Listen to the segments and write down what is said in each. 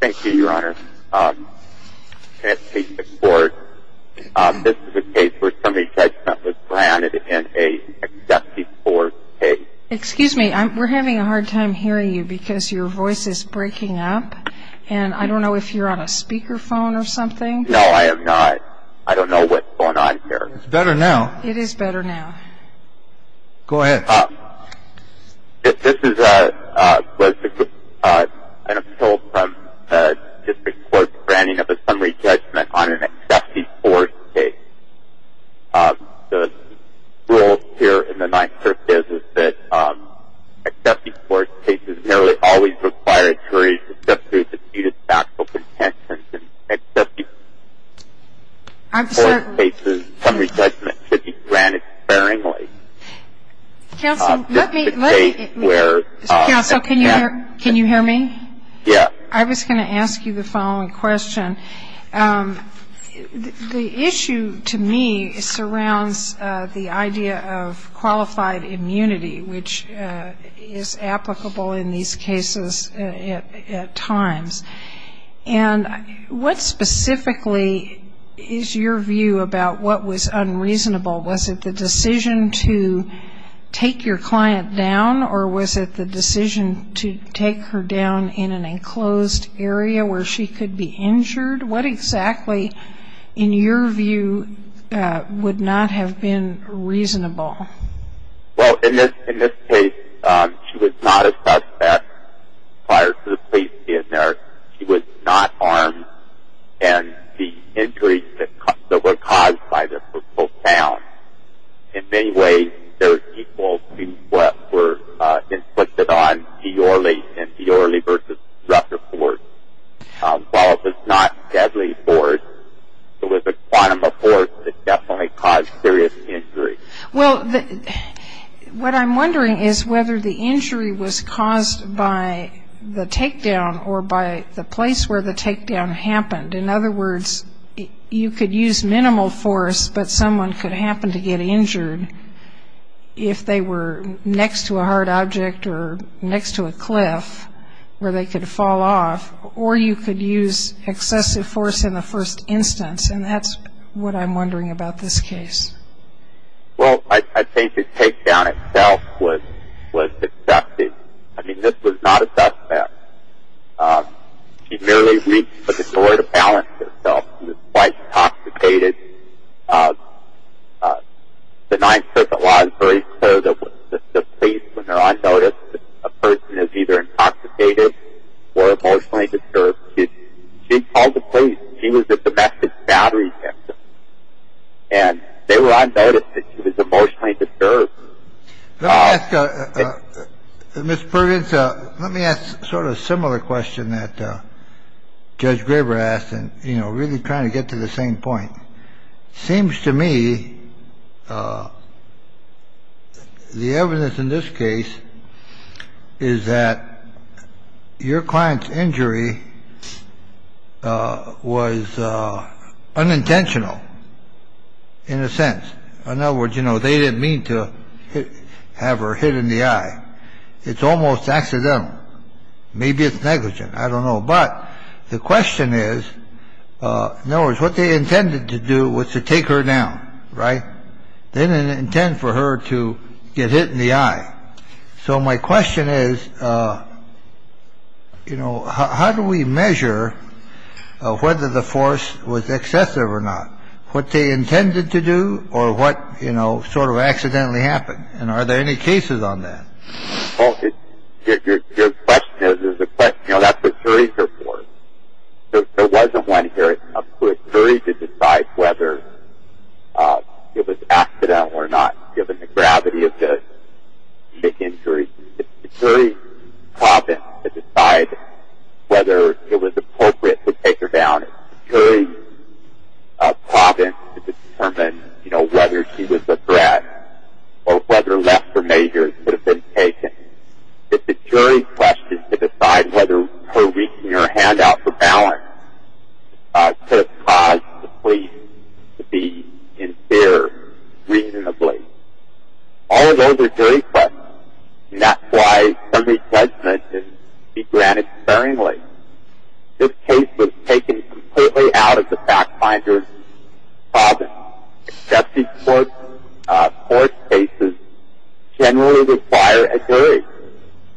Thank you, Your Honor. This is a case where somebody's judgment was granted in a 74 case. Excuse me, we're having a hard time hearing you because your voice is breaking up, and I don't know if you're on a speakerphone or something. No, I am not. I don't know what's going on here. It's better now. It is better now. Go ahead. This is an appeal from the District Court's granting of a summary judgment on an 74 case. The rule here in the Ninth Circuit is that 74 cases nearly always require a jury to dispute its factual content, and 54 cases, summary judgment should be granted sparingly. Counsel, let me- This is a case where- Counsel, can you hear me? Yes. I was going to ask you the following question. The issue to me surrounds the idea of qualified immunity, which is applicable in these cases at times. And what specifically is your view about what was unreasonable? Was it the decision to take your client down, or was it the decision to take her down in an enclosed area where she could be injured? What exactly, in your view, would not have been reasonable? Well, in this case, she was not a suspect prior to the police being there. She was not armed, and the injuries that were caused by this were profound. In many ways, they were equal to what were inflicted on G. Orley and G. Orley v. Rutherford. While it was not deadly force, it was a quantum of force that definitely caused serious injury. Well, what I'm wondering is whether the injury was caused by the takedown or by the place where the takedown happened. In other words, you could use minimal force, but someone could happen to get injured if they were next to a hard object or next to a cliff, where they could fall off, or you could use excessive force in the first instance. And that's what I'm wondering about this case. Well, I think the takedown itself was deceptive. I mean, this was not a suspect. She merely reached for the door to balance herself. She was quite intoxicated. The Ninth Circuit law is very clear that the police, when they're on notice, a person is either intoxicated or emotionally disturbed. She called the police. She was the domestic battery victim. And they were on notice that she was emotionally disturbed. Let me ask, Mr. Perkins, let me ask sort of a similar question that Judge Graber asked, and, you know, really trying to get to the same point. Seems to me the evidence in this case is that your client's injury was unintentional in a sense. In other words, you know, they didn't mean to have her hit in the eye. It's almost accidental. Maybe it's negligent. I don't know. But the question is, in other words, what they intended to do was to take her down. Right. They didn't intend for her to get hit in the eye. So my question is, you know, how do we measure whether the force was excessive or not? What they intended to do or what, you know, sort of accidentally happened? And are there any cases on that? Your question is a question. You know, that's what juries are for. There wasn't one jury to decide whether it was accidental or not, given the gravity of the injury. It's the jury's province to decide whether it was appropriate to take her down. It's the jury's province to determine, you know, whether she was a threat or whether left for major and could have been taken. It's the jury's question to decide whether her reaching her hand out for balance could have caused the police to be in fear reasonably. All of those are jury questions, and that's why summary judgment is to be granted sparingly. This case was taken completely out of the FactFinder's province. Excessive force cases generally require a jury.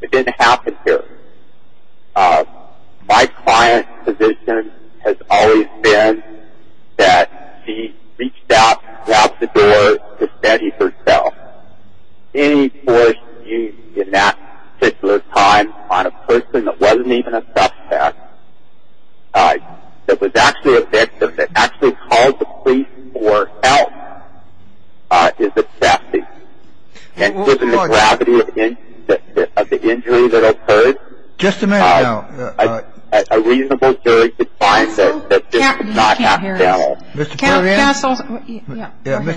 It didn't happen here. My client's position has always been that she reached out, grabbed the door to steady herself. Any force used in that particular time on a person that wasn't even a suspect, that was actually a victim, that actually called the police for help, is a theft. And given the gravity of the injury that occurred, a reasonable jury could find that this was not accidental. Mr.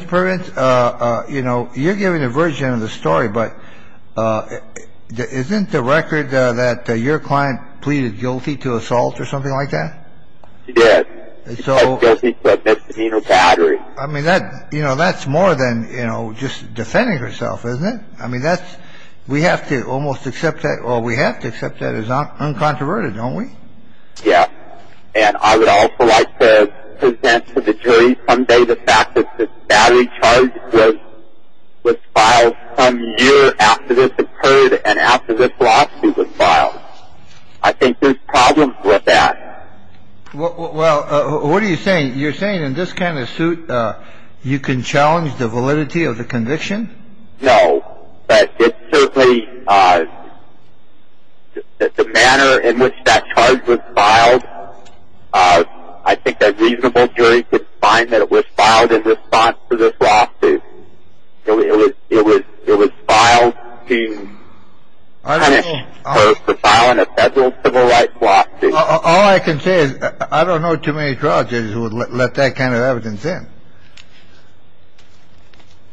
Pervens, you know, you're giving a version of the story, but isn't the record that your client pleaded guilty to assault or something like that? She did. She pleaded guilty to a misdemeanor battery. I mean, that's more than just defending herself, isn't it? I mean, we have to almost accept that. Well, we have to accept that as uncontroverted, don't we? Yes. And I would also like to present to the jury someday the fact that this battery charge was filed some year after this occurred and after this lawsuit was filed. I think there's problems with that. Well, what are you saying? You're saying in this kind of suit you can challenge the validity of the conviction? No. But it certainly, the manner in which that charge was filed, I think a reasonable jury could find that it was filed in response to this lawsuit. It was filed to punish her for filing a federal civil rights lawsuit. All I can say is I don't know too many trial judges who would let that kind of evidence in.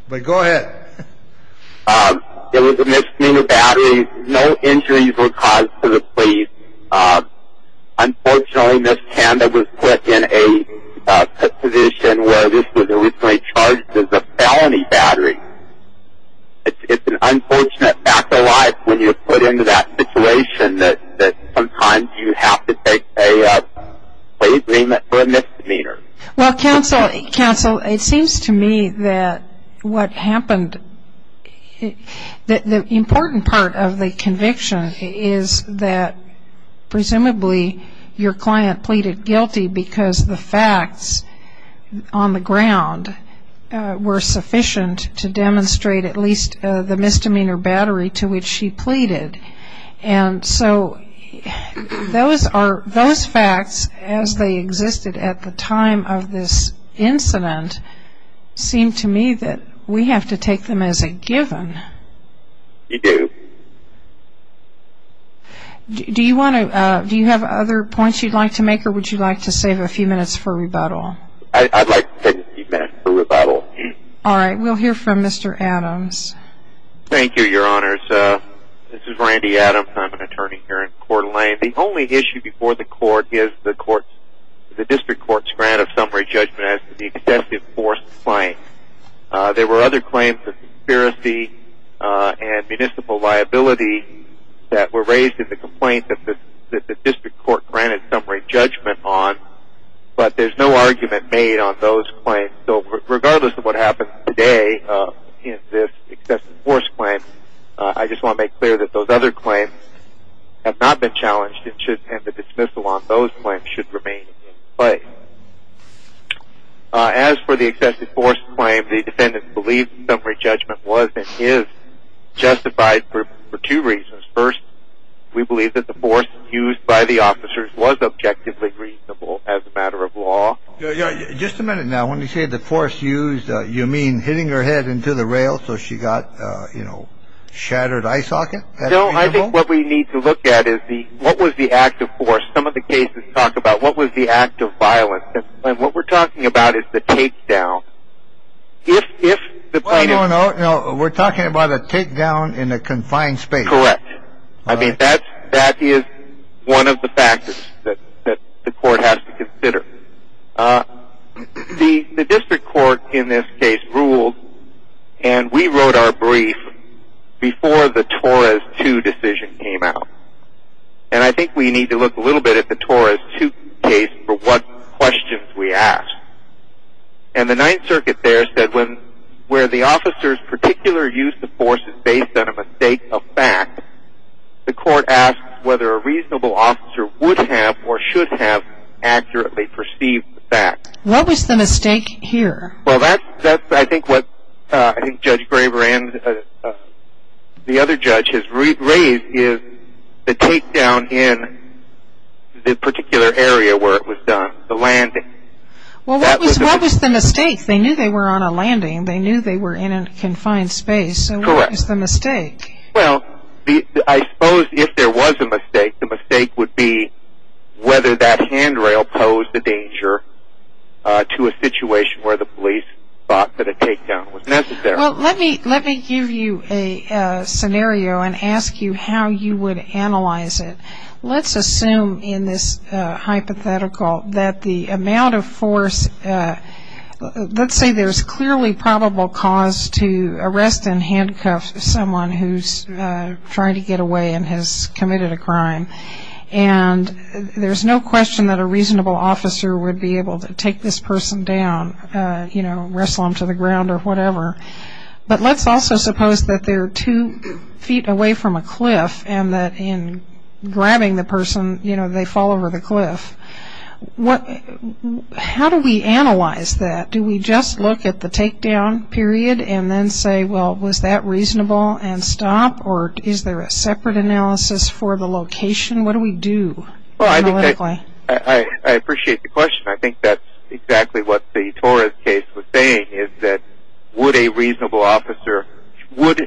But go ahead. It was a misdemeanor battery. No injuries were caused to the plea. Unfortunately, Ms. Tanda was put in a position where this was originally charged as a felony battery. It's an unfortunate fact of life when you're put into that situation that sometimes you have to take a plea agreement for a misdemeanor. Well, counsel, it seems to me that what happened, the important part of the conviction is that presumably your client pleaded guilty because the facts on the ground were sufficient to demonstrate at least the misdemeanor battery to which she pleaded. And so those facts, as they existed at the time of this incident, seem to me that we have to take them as a given. We do. Do you have other points you'd like to make, or would you like to save a few minutes for rebuttal? I'd like to save a few minutes for rebuttal. All right. We'll hear from Mr. Adams. Thank you, Your Honors. This is Randy Adams. I'm an attorney here in Coeur d'Alene. The only issue before the court is the district court's grant of summary judgment as to the excessive force claim. There were other claims of conspiracy and municipal liability that were raised in the complaint that the district court granted summary judgment on, but there's no argument made on those claims. So regardless of what happens today in this excessive force claim, I just want to make clear that those other claims have not been challenged and the dismissal on those claims should remain in place. As for the excessive force claim, the defendant believes the summary judgment was and is justified for two reasons. First, we believe that the force used by the officers was objectively reasonable as a matter of law. Just a minute now. When you say the force used, you mean hitting her head into the rail so she got, you know, shattered eye socket? No. I think what we need to look at is what was the act of force. Some of the cases talk about what was the act of violence. And what we're talking about is the takedown. No, no, no. We're talking about a takedown in a confined space. Correct. I mean, that is one of the factors that the court has to consider. The district court in this case ruled, and we wrote our brief before the Torres II decision came out. And I think we need to look a little bit at the Torres II case for what questions we ask. And the Ninth Circuit there said where the officer's particular use of force is based on a mistake of fact, the court asks whether a reasonable officer would have or should have accurately perceived the fact. What was the mistake here? Well, that's, I think, what Judge Graber and the other judge has raised is the takedown in the particular area where it was done, the landing. Well, what was the mistake? They knew they were on a landing. They knew they were in a confined space. Correct. So what was the mistake? Well, I suppose if there was a mistake, the mistake would be whether that handrail posed a danger to a situation where the police thought that a takedown was necessary. Well, let me give you a scenario and ask you how you would analyze it. Let's assume in this hypothetical that the amount of force, let's say there's clearly probable cause to arrest and handcuff someone who's trying to get away and has committed a crime. And there's no question that a reasonable officer would be able to take this person down, you know, wrestle them to the ground or whatever. But let's also suppose that they're two feet away from a cliff and that in grabbing the person, you know, they fall over the cliff. How do we analyze that? Do we just look at the takedown period and then say, well, was that reasonable and stop? Or is there a separate analysis for the location? What do we do analytically? Well, I appreciate the question. I think that's exactly what the Torres case was saying is that would a reasonable officer would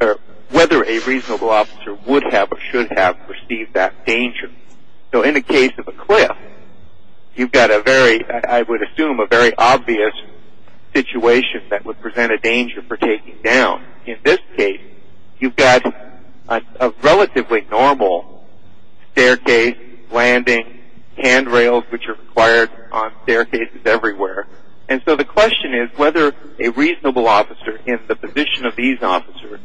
or whether a reasonable officer would have or should have perceived that danger. So in the case of a cliff, you've got a very, I would assume, a very obvious situation that would present a danger for taking down. In this case, you've got a relatively normal staircase, landing, handrails, which are required on staircases everywhere. And so the question is whether a reasonable officer in the position of these officers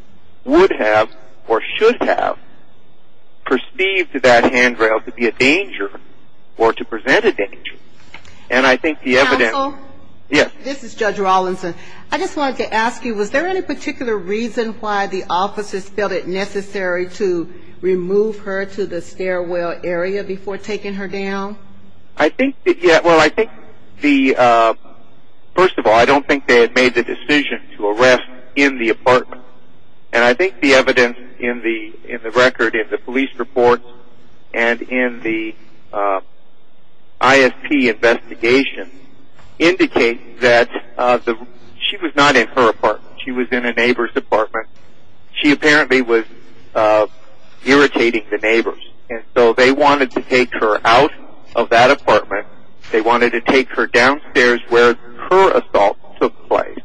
would have or should have perceived that handrail to be a danger or to present a danger. And I think the evidence- Counsel? Yes. This is Judge Rawlinson. I just wanted to ask you, was there any particular reason why the officers felt it necessary to remove her to the stairwell area before taking her down? I think that, well, I think the, first of all, I don't think they had made the decision to arrest in the apartment. And I think the evidence in the record, in the police report, and in the ISP investigation indicate that she was not in her apartment. She was in a neighbor's apartment. She apparently was irritating the neighbors. And so they wanted to take her out of that apartment. They wanted to take her downstairs where her assault took place.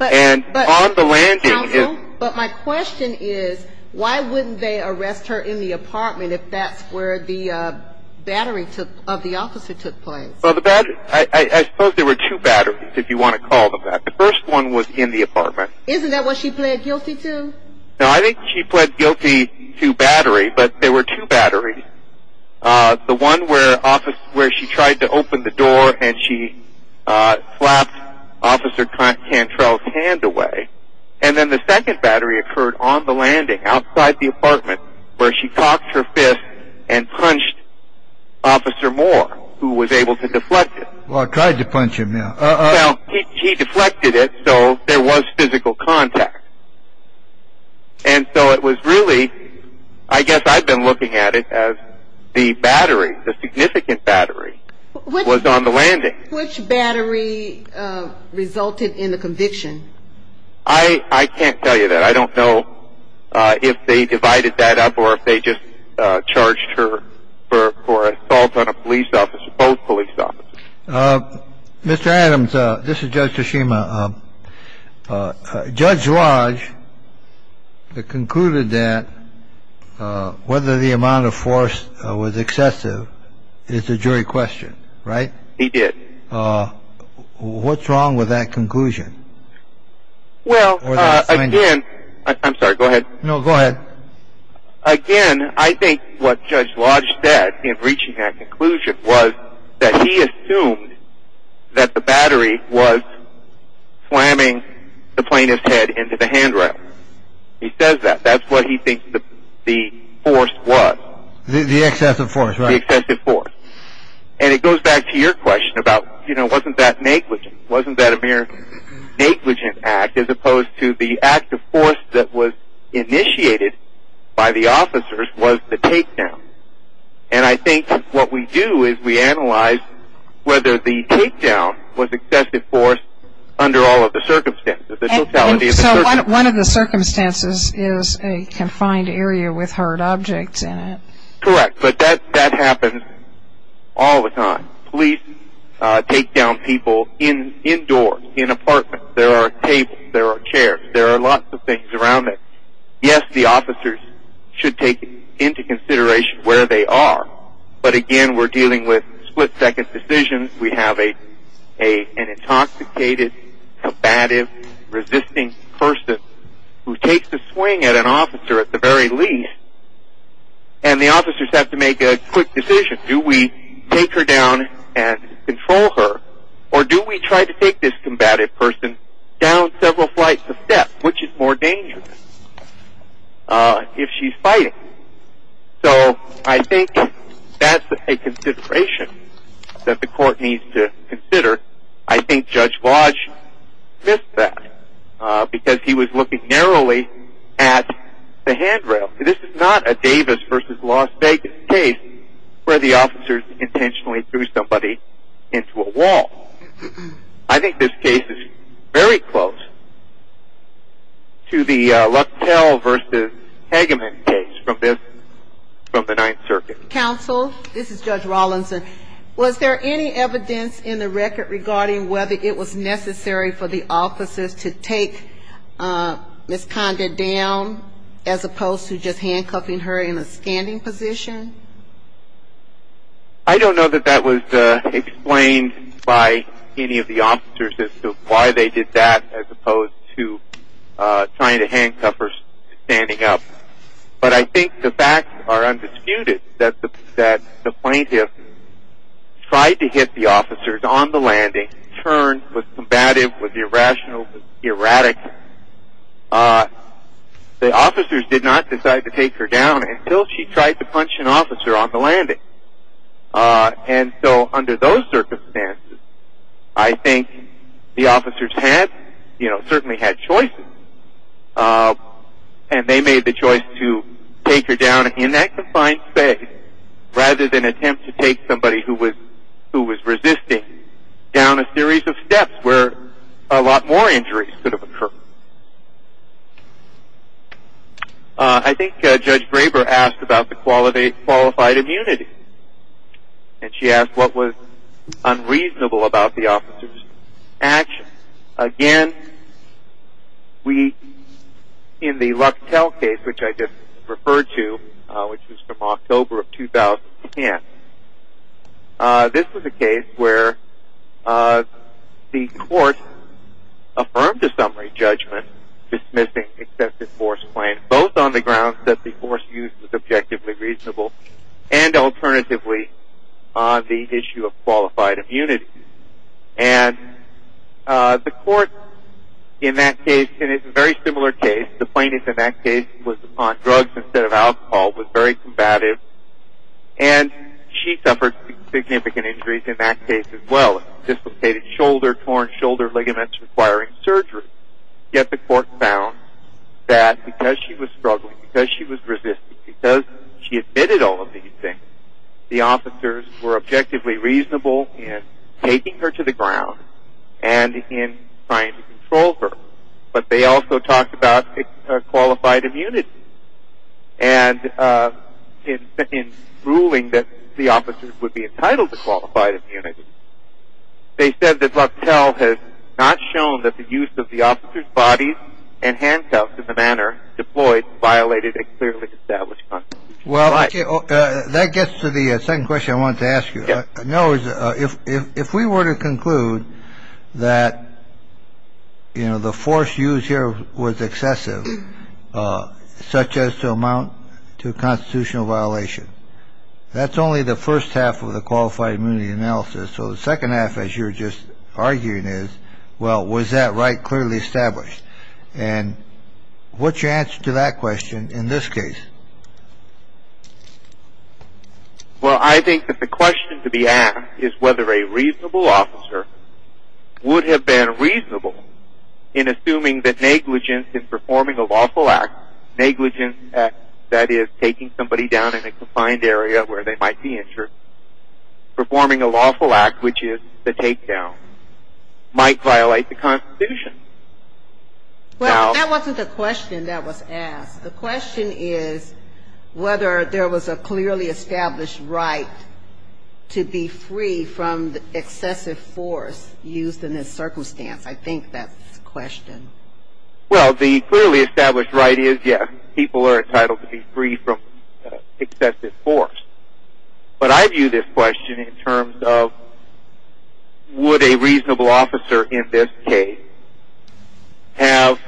And on the landing- Counsel, but my question is, why wouldn't they arrest her in the apartment if that's where the battery of the officer took place? Well, I suppose there were two batteries, if you want to call them that. The first one was in the apartment. Isn't that what she pled guilty to? No, I think she pled guilty to battery, but there were two batteries. The one where she tried to open the door and she slapped Officer Cantrell's hand away. And then the second battery occurred on the landing, outside the apartment, where she cocked her fist and punched Officer Moore, who was able to deflect it. Well, I tried to punch him, yeah. Well, he deflected it, so there was physical contact. And so it was really, I guess I've been looking at it as the battery, the significant battery, was on the landing. Which battery resulted in the conviction? I can't tell you that. I don't know if they divided that up or if they just charged her for assault on a police officer, both police officers. Mr. Adams, this is Judge Toshima. Judge Lodge concluded that whether the amount of force was excessive is a jury question, right? He did. What's wrong with that conclusion? Well, again, I'm sorry, go ahead. No, go ahead. Again, I think what Judge Lodge said in reaching that conclusion was that he assumed that the battery was slamming the plaintiff's head into the handrail. He says that. That's what he thinks the force was. The excessive force, right. The excessive force. And it goes back to your question about, you know, wasn't that negligent? Wasn't that a mere negligent act as opposed to the act of force that was initiated by the officers was the takedown? And I think what we do is we analyze whether the takedown was excessive force under all of the circumstances. So one of the circumstances is a confined area with hard objects in it. Correct. But that happens all the time. Police takedown people indoors, in apartments. There are tables. There are chairs. There are lots of things around it. Yes, the officers should take into consideration where they are. But, again, we're dealing with split-second decisions. We have an intoxicated, combative, resisting person who takes a swing at an officer at the very least, and the officers have to make a quick decision. Do we take her down and control her, or do we try to take this combative person down several flights of steps, which is more dangerous if she's fighting? So I think that's a consideration that the court needs to consider. I think Judge Lodge missed that because he was looking narrowly at the handrail. This is not a Davis v. Las Vegas case where the officers intentionally threw somebody into a wall. I think this case is very close to the Lucktell v. Hageman case from the Ninth Circuit. Counsel, this is Judge Rawlinson. Was there any evidence in the record regarding whether it was necessary for the officers to take Ms. Conda down as opposed to just handcuffing her in a standing position? I don't know that that was explained by any of the officers as to why they did that as opposed to trying to handcuff her standing up. But I think the facts are undisputed that the plaintiff tried to hit the officers on the landing, turned, was combative, was irrational, was erratic. The officers did not decide to take her down until she tried to punch an officer on the landing. And so under those circumstances, I think the officers certainly had choices, and they made the choice to take her down in that confined space rather than attempt to take somebody who was resisting down a series of steps where a lot more injuries could have occurred. I think Judge Graber asked about the qualified immunity, and she asked what was unreasonable about the officers' actions. Again, in the Lucktell case, which I just referred to, which was from October of 2010, this was a case where the court affirmed a summary judgment dismissing excessive force claims, both on the grounds that the force used was objectively reasonable and alternatively on the issue of qualified immunity. And the court in that case, in a very similar case, the plaintiff in that case was on drugs instead of alcohol, was very combative, and she suffered significant injuries in that case as well. Dislocated shoulder, torn shoulder ligaments requiring surgery. Yet the court found that because she was struggling, because she was resisting, because she admitted all of these things, the officers were objectively reasonable in taking her to the ground and in trying to control her. But they also talked about qualified immunity. And in ruling that the officers would be entitled to qualified immunity, they said that Lucktell has not shown that the use of the officers' bodies and handcuffs in the manner deployed violated a clearly established constitutional right. Well, that gets to the second question I wanted to ask you. If we were to conclude that, you know, the force used here was excessive, such as to amount to a constitutional violation, that's only the first half of the qualified immunity analysis. So the second half, as you were just arguing, is, well, was that right clearly established? And what's your answer to that question in this case? Well, I think that the question to be asked is whether a reasonable officer would have been reasonable in assuming that negligence in performing a lawful act, negligence that is taking somebody down in a confined area where they might be injured, performing a lawful act, which is the takedown, might violate the Constitution. The question is whether there was a clearly established right to be free from the excessive force used in this circumstance. I think that's the question. Well, the clearly established right is, yes, people are entitled to be free from excessive force. But I view this question in terms of would a reasonable officer in this case have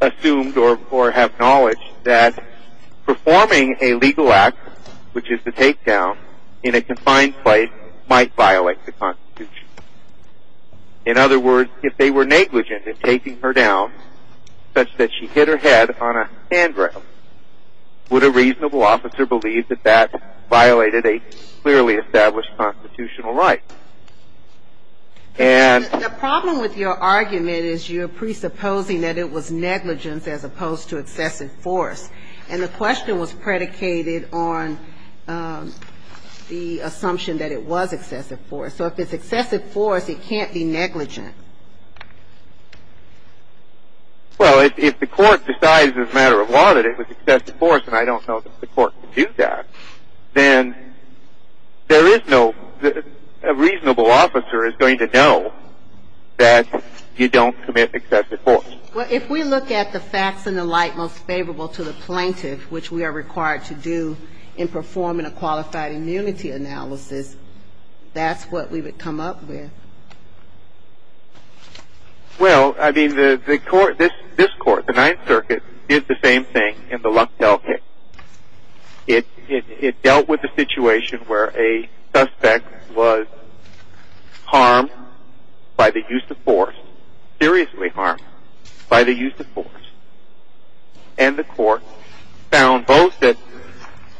assumed or have knowledge that performing a legal act, which is the takedown, in a confined place, might violate the Constitution. In other words, if they were negligent in taking her down such that she hit her head on a handrail, would a reasonable officer believe that that violated a clearly established constitutional right? And the problem with your argument is you're presupposing that it was negligence as opposed to excessive force. And the question was predicated on the assumption that it was excessive force. So if it's excessive force, it can't be negligent. Well, if the court decides as a matter of law that it was excessive force, and I don't know if the court can do that, then there is no reasonable officer is going to know that you don't commit excessive force. Well, if we look at the facts in the light most favorable to the plaintiff, which we are required to do in performing a qualified immunity analysis, that's what we would come up with. Well, I mean, this court, the Ninth Circuit, did the same thing in the Lundell case. It dealt with a situation where a suspect was harmed by the use of force, seriously harmed by the use of force. And the court found both that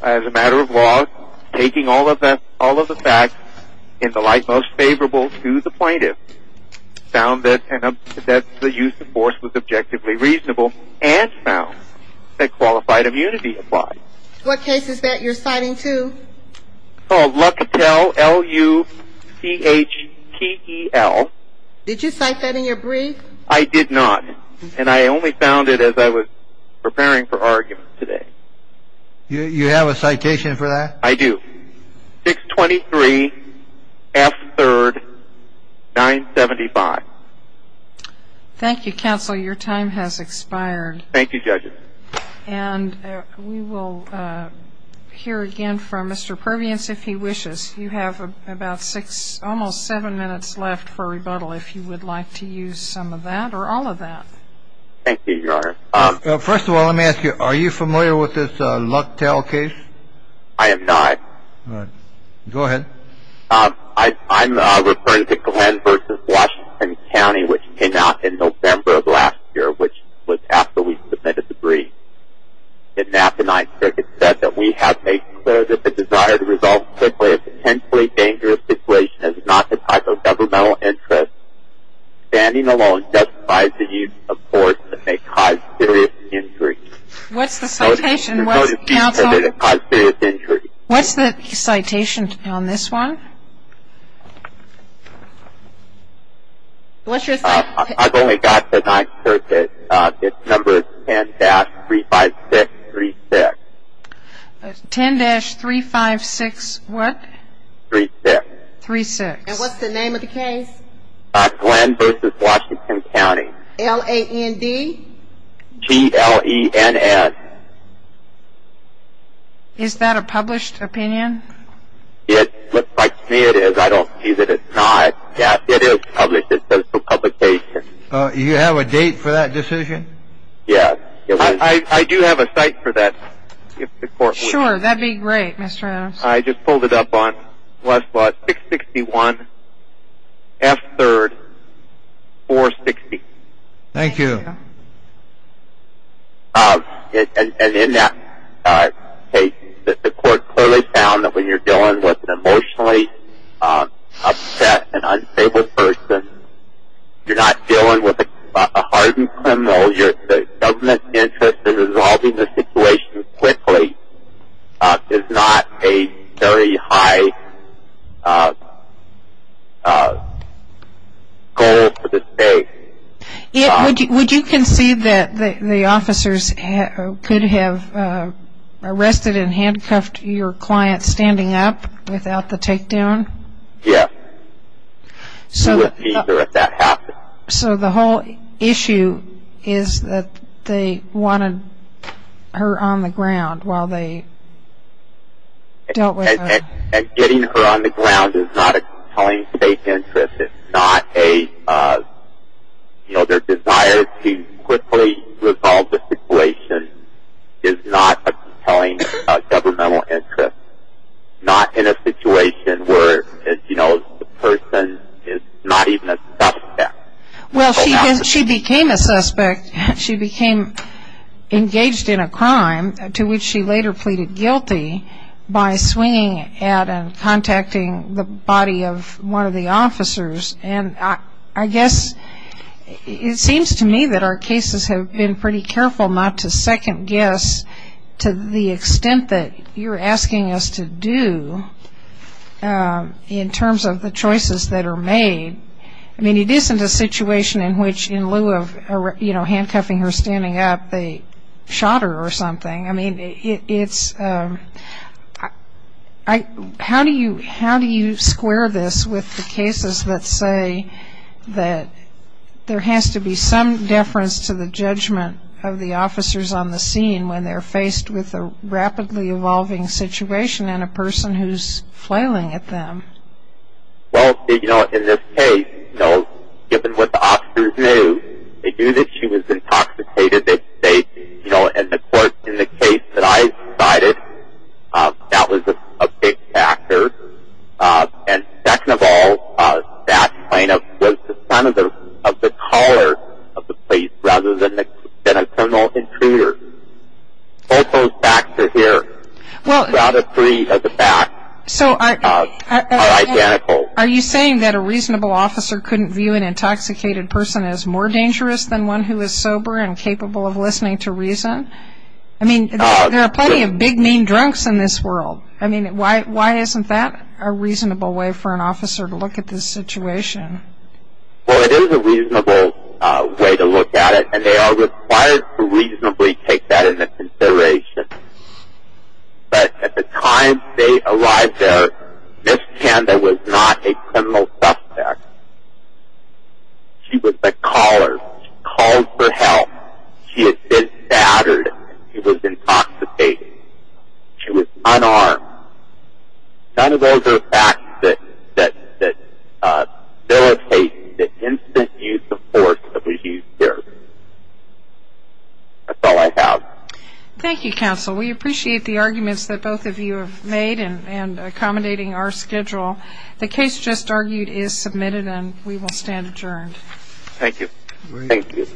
as a matter of law, taking all of the facts in the light most favorable to the plaintiff, found that the use of force was objectively reasonable and found that qualified immunity applied. What case is that you're citing to? It's called Lucatel, L-U-C-H-T-E-L. Did you cite that in your brief? I did not, and I only found it as I was preparing for argument today. You have a citation for that? I do. 623 F. 3rd, 975. Thank you, counsel. Your time has expired. Thank you, judges. And we will hear again from Mr. Perveance if he wishes. You have about six, almost seven minutes left for rebuttal if you would like to use some of that or all of that. Thank you, Your Honor. First of all, let me ask you, are you familiar with this Lucatel case? I am not. All right. Go ahead. I'm referring to Glenn v. Washington County, which came out in November of last year, which was after we submitted the brief. In that, the Ninth Circuit said that we have made clear that the desire to resolve simply a potentially dangerous situation is not the type of governmental interest. Standing alone justifies the use of force that may cause serious injury. What's the citation? What's the citation on this one? What's your citation? I've only got the Ninth Circuit. Its number is 10-35636. 10-356 what? Three-six. Three-six. And what's the name of the case? Glenn v. Washington County. L-A-N-D? G-L-E-N-S. Is that a published opinion? It looks like to me it is. I don't see that it's not. Yes, it is published. It's a public case. Do you have a date for that decision? Yes. I do have a site for that. Sure. That would be great, Mr. Adams. I just pulled it up on 661 F. 3rd, 460. Thank you. And in that case, the court clearly found that when you're dealing with an emotionally upset and unstable person, you're not dealing with a hardened criminal. The government's interest in resolving the situation quickly is not a very high goal for the state. Would you concede that the officers could have arrested and handcuffed your client standing up without the takedown? Yes. So the whole issue is that they wanted her on the ground while they dealt with her. And getting her on the ground is not a compelling state interest. It's not a, you know, their desire to quickly resolve the situation is not a compelling governmental interest, not in a situation where, as you know, the person is not even a suspect. Well, she became a suspect. She became engaged in a crime to which she later pleaded guilty by swinging at and contacting the body of one of the officers. And I guess it seems to me that our cases have been pretty careful not to second guess to the extent that you're asking us to do in terms of the choices that are made. I mean, it isn't a situation in which in lieu of, you know, handcuffing her standing up, they shot her or something. I mean, it's ‑‑ how do you square this with the cases that say that there has to be some deference to the judgment of the officers on the scene when they're faced with a rapidly evolving situation and a person who's flailing at them? Well, you know, in this case, you know, given what the officers knew, they knew that she was intoxicated. They, you know, in the court, in the case that I cited, that was a big factor. And second of all, that plaintiff was the son of the caller of the police rather than a criminal intruder. Both those facts are here. Well, are you saying that a reasonable officer couldn't view an intoxicated person as more dangerous than one who is sober and capable of listening to reason? I mean, there are plenty of big, mean drunks in this world. I mean, why isn't that a reasonable way for an officer to look at this situation? Well, it is a reasonable way to look at it, and they are required to reasonably take that into consideration. But at the time they arrived there, Ms. Kanda was not a criminal suspect. She was the caller. She called for help. She had been battered. She was intoxicated. She was unarmed. None of those are facts that facilitate the instant use of force that was used there. That's all I have. Thank you, counsel. We appreciate the arguments that both of you have made and accommodating our schedule. The case just argued is submitted, and we will stand adjourned. Thank you. Thank you. Thank you.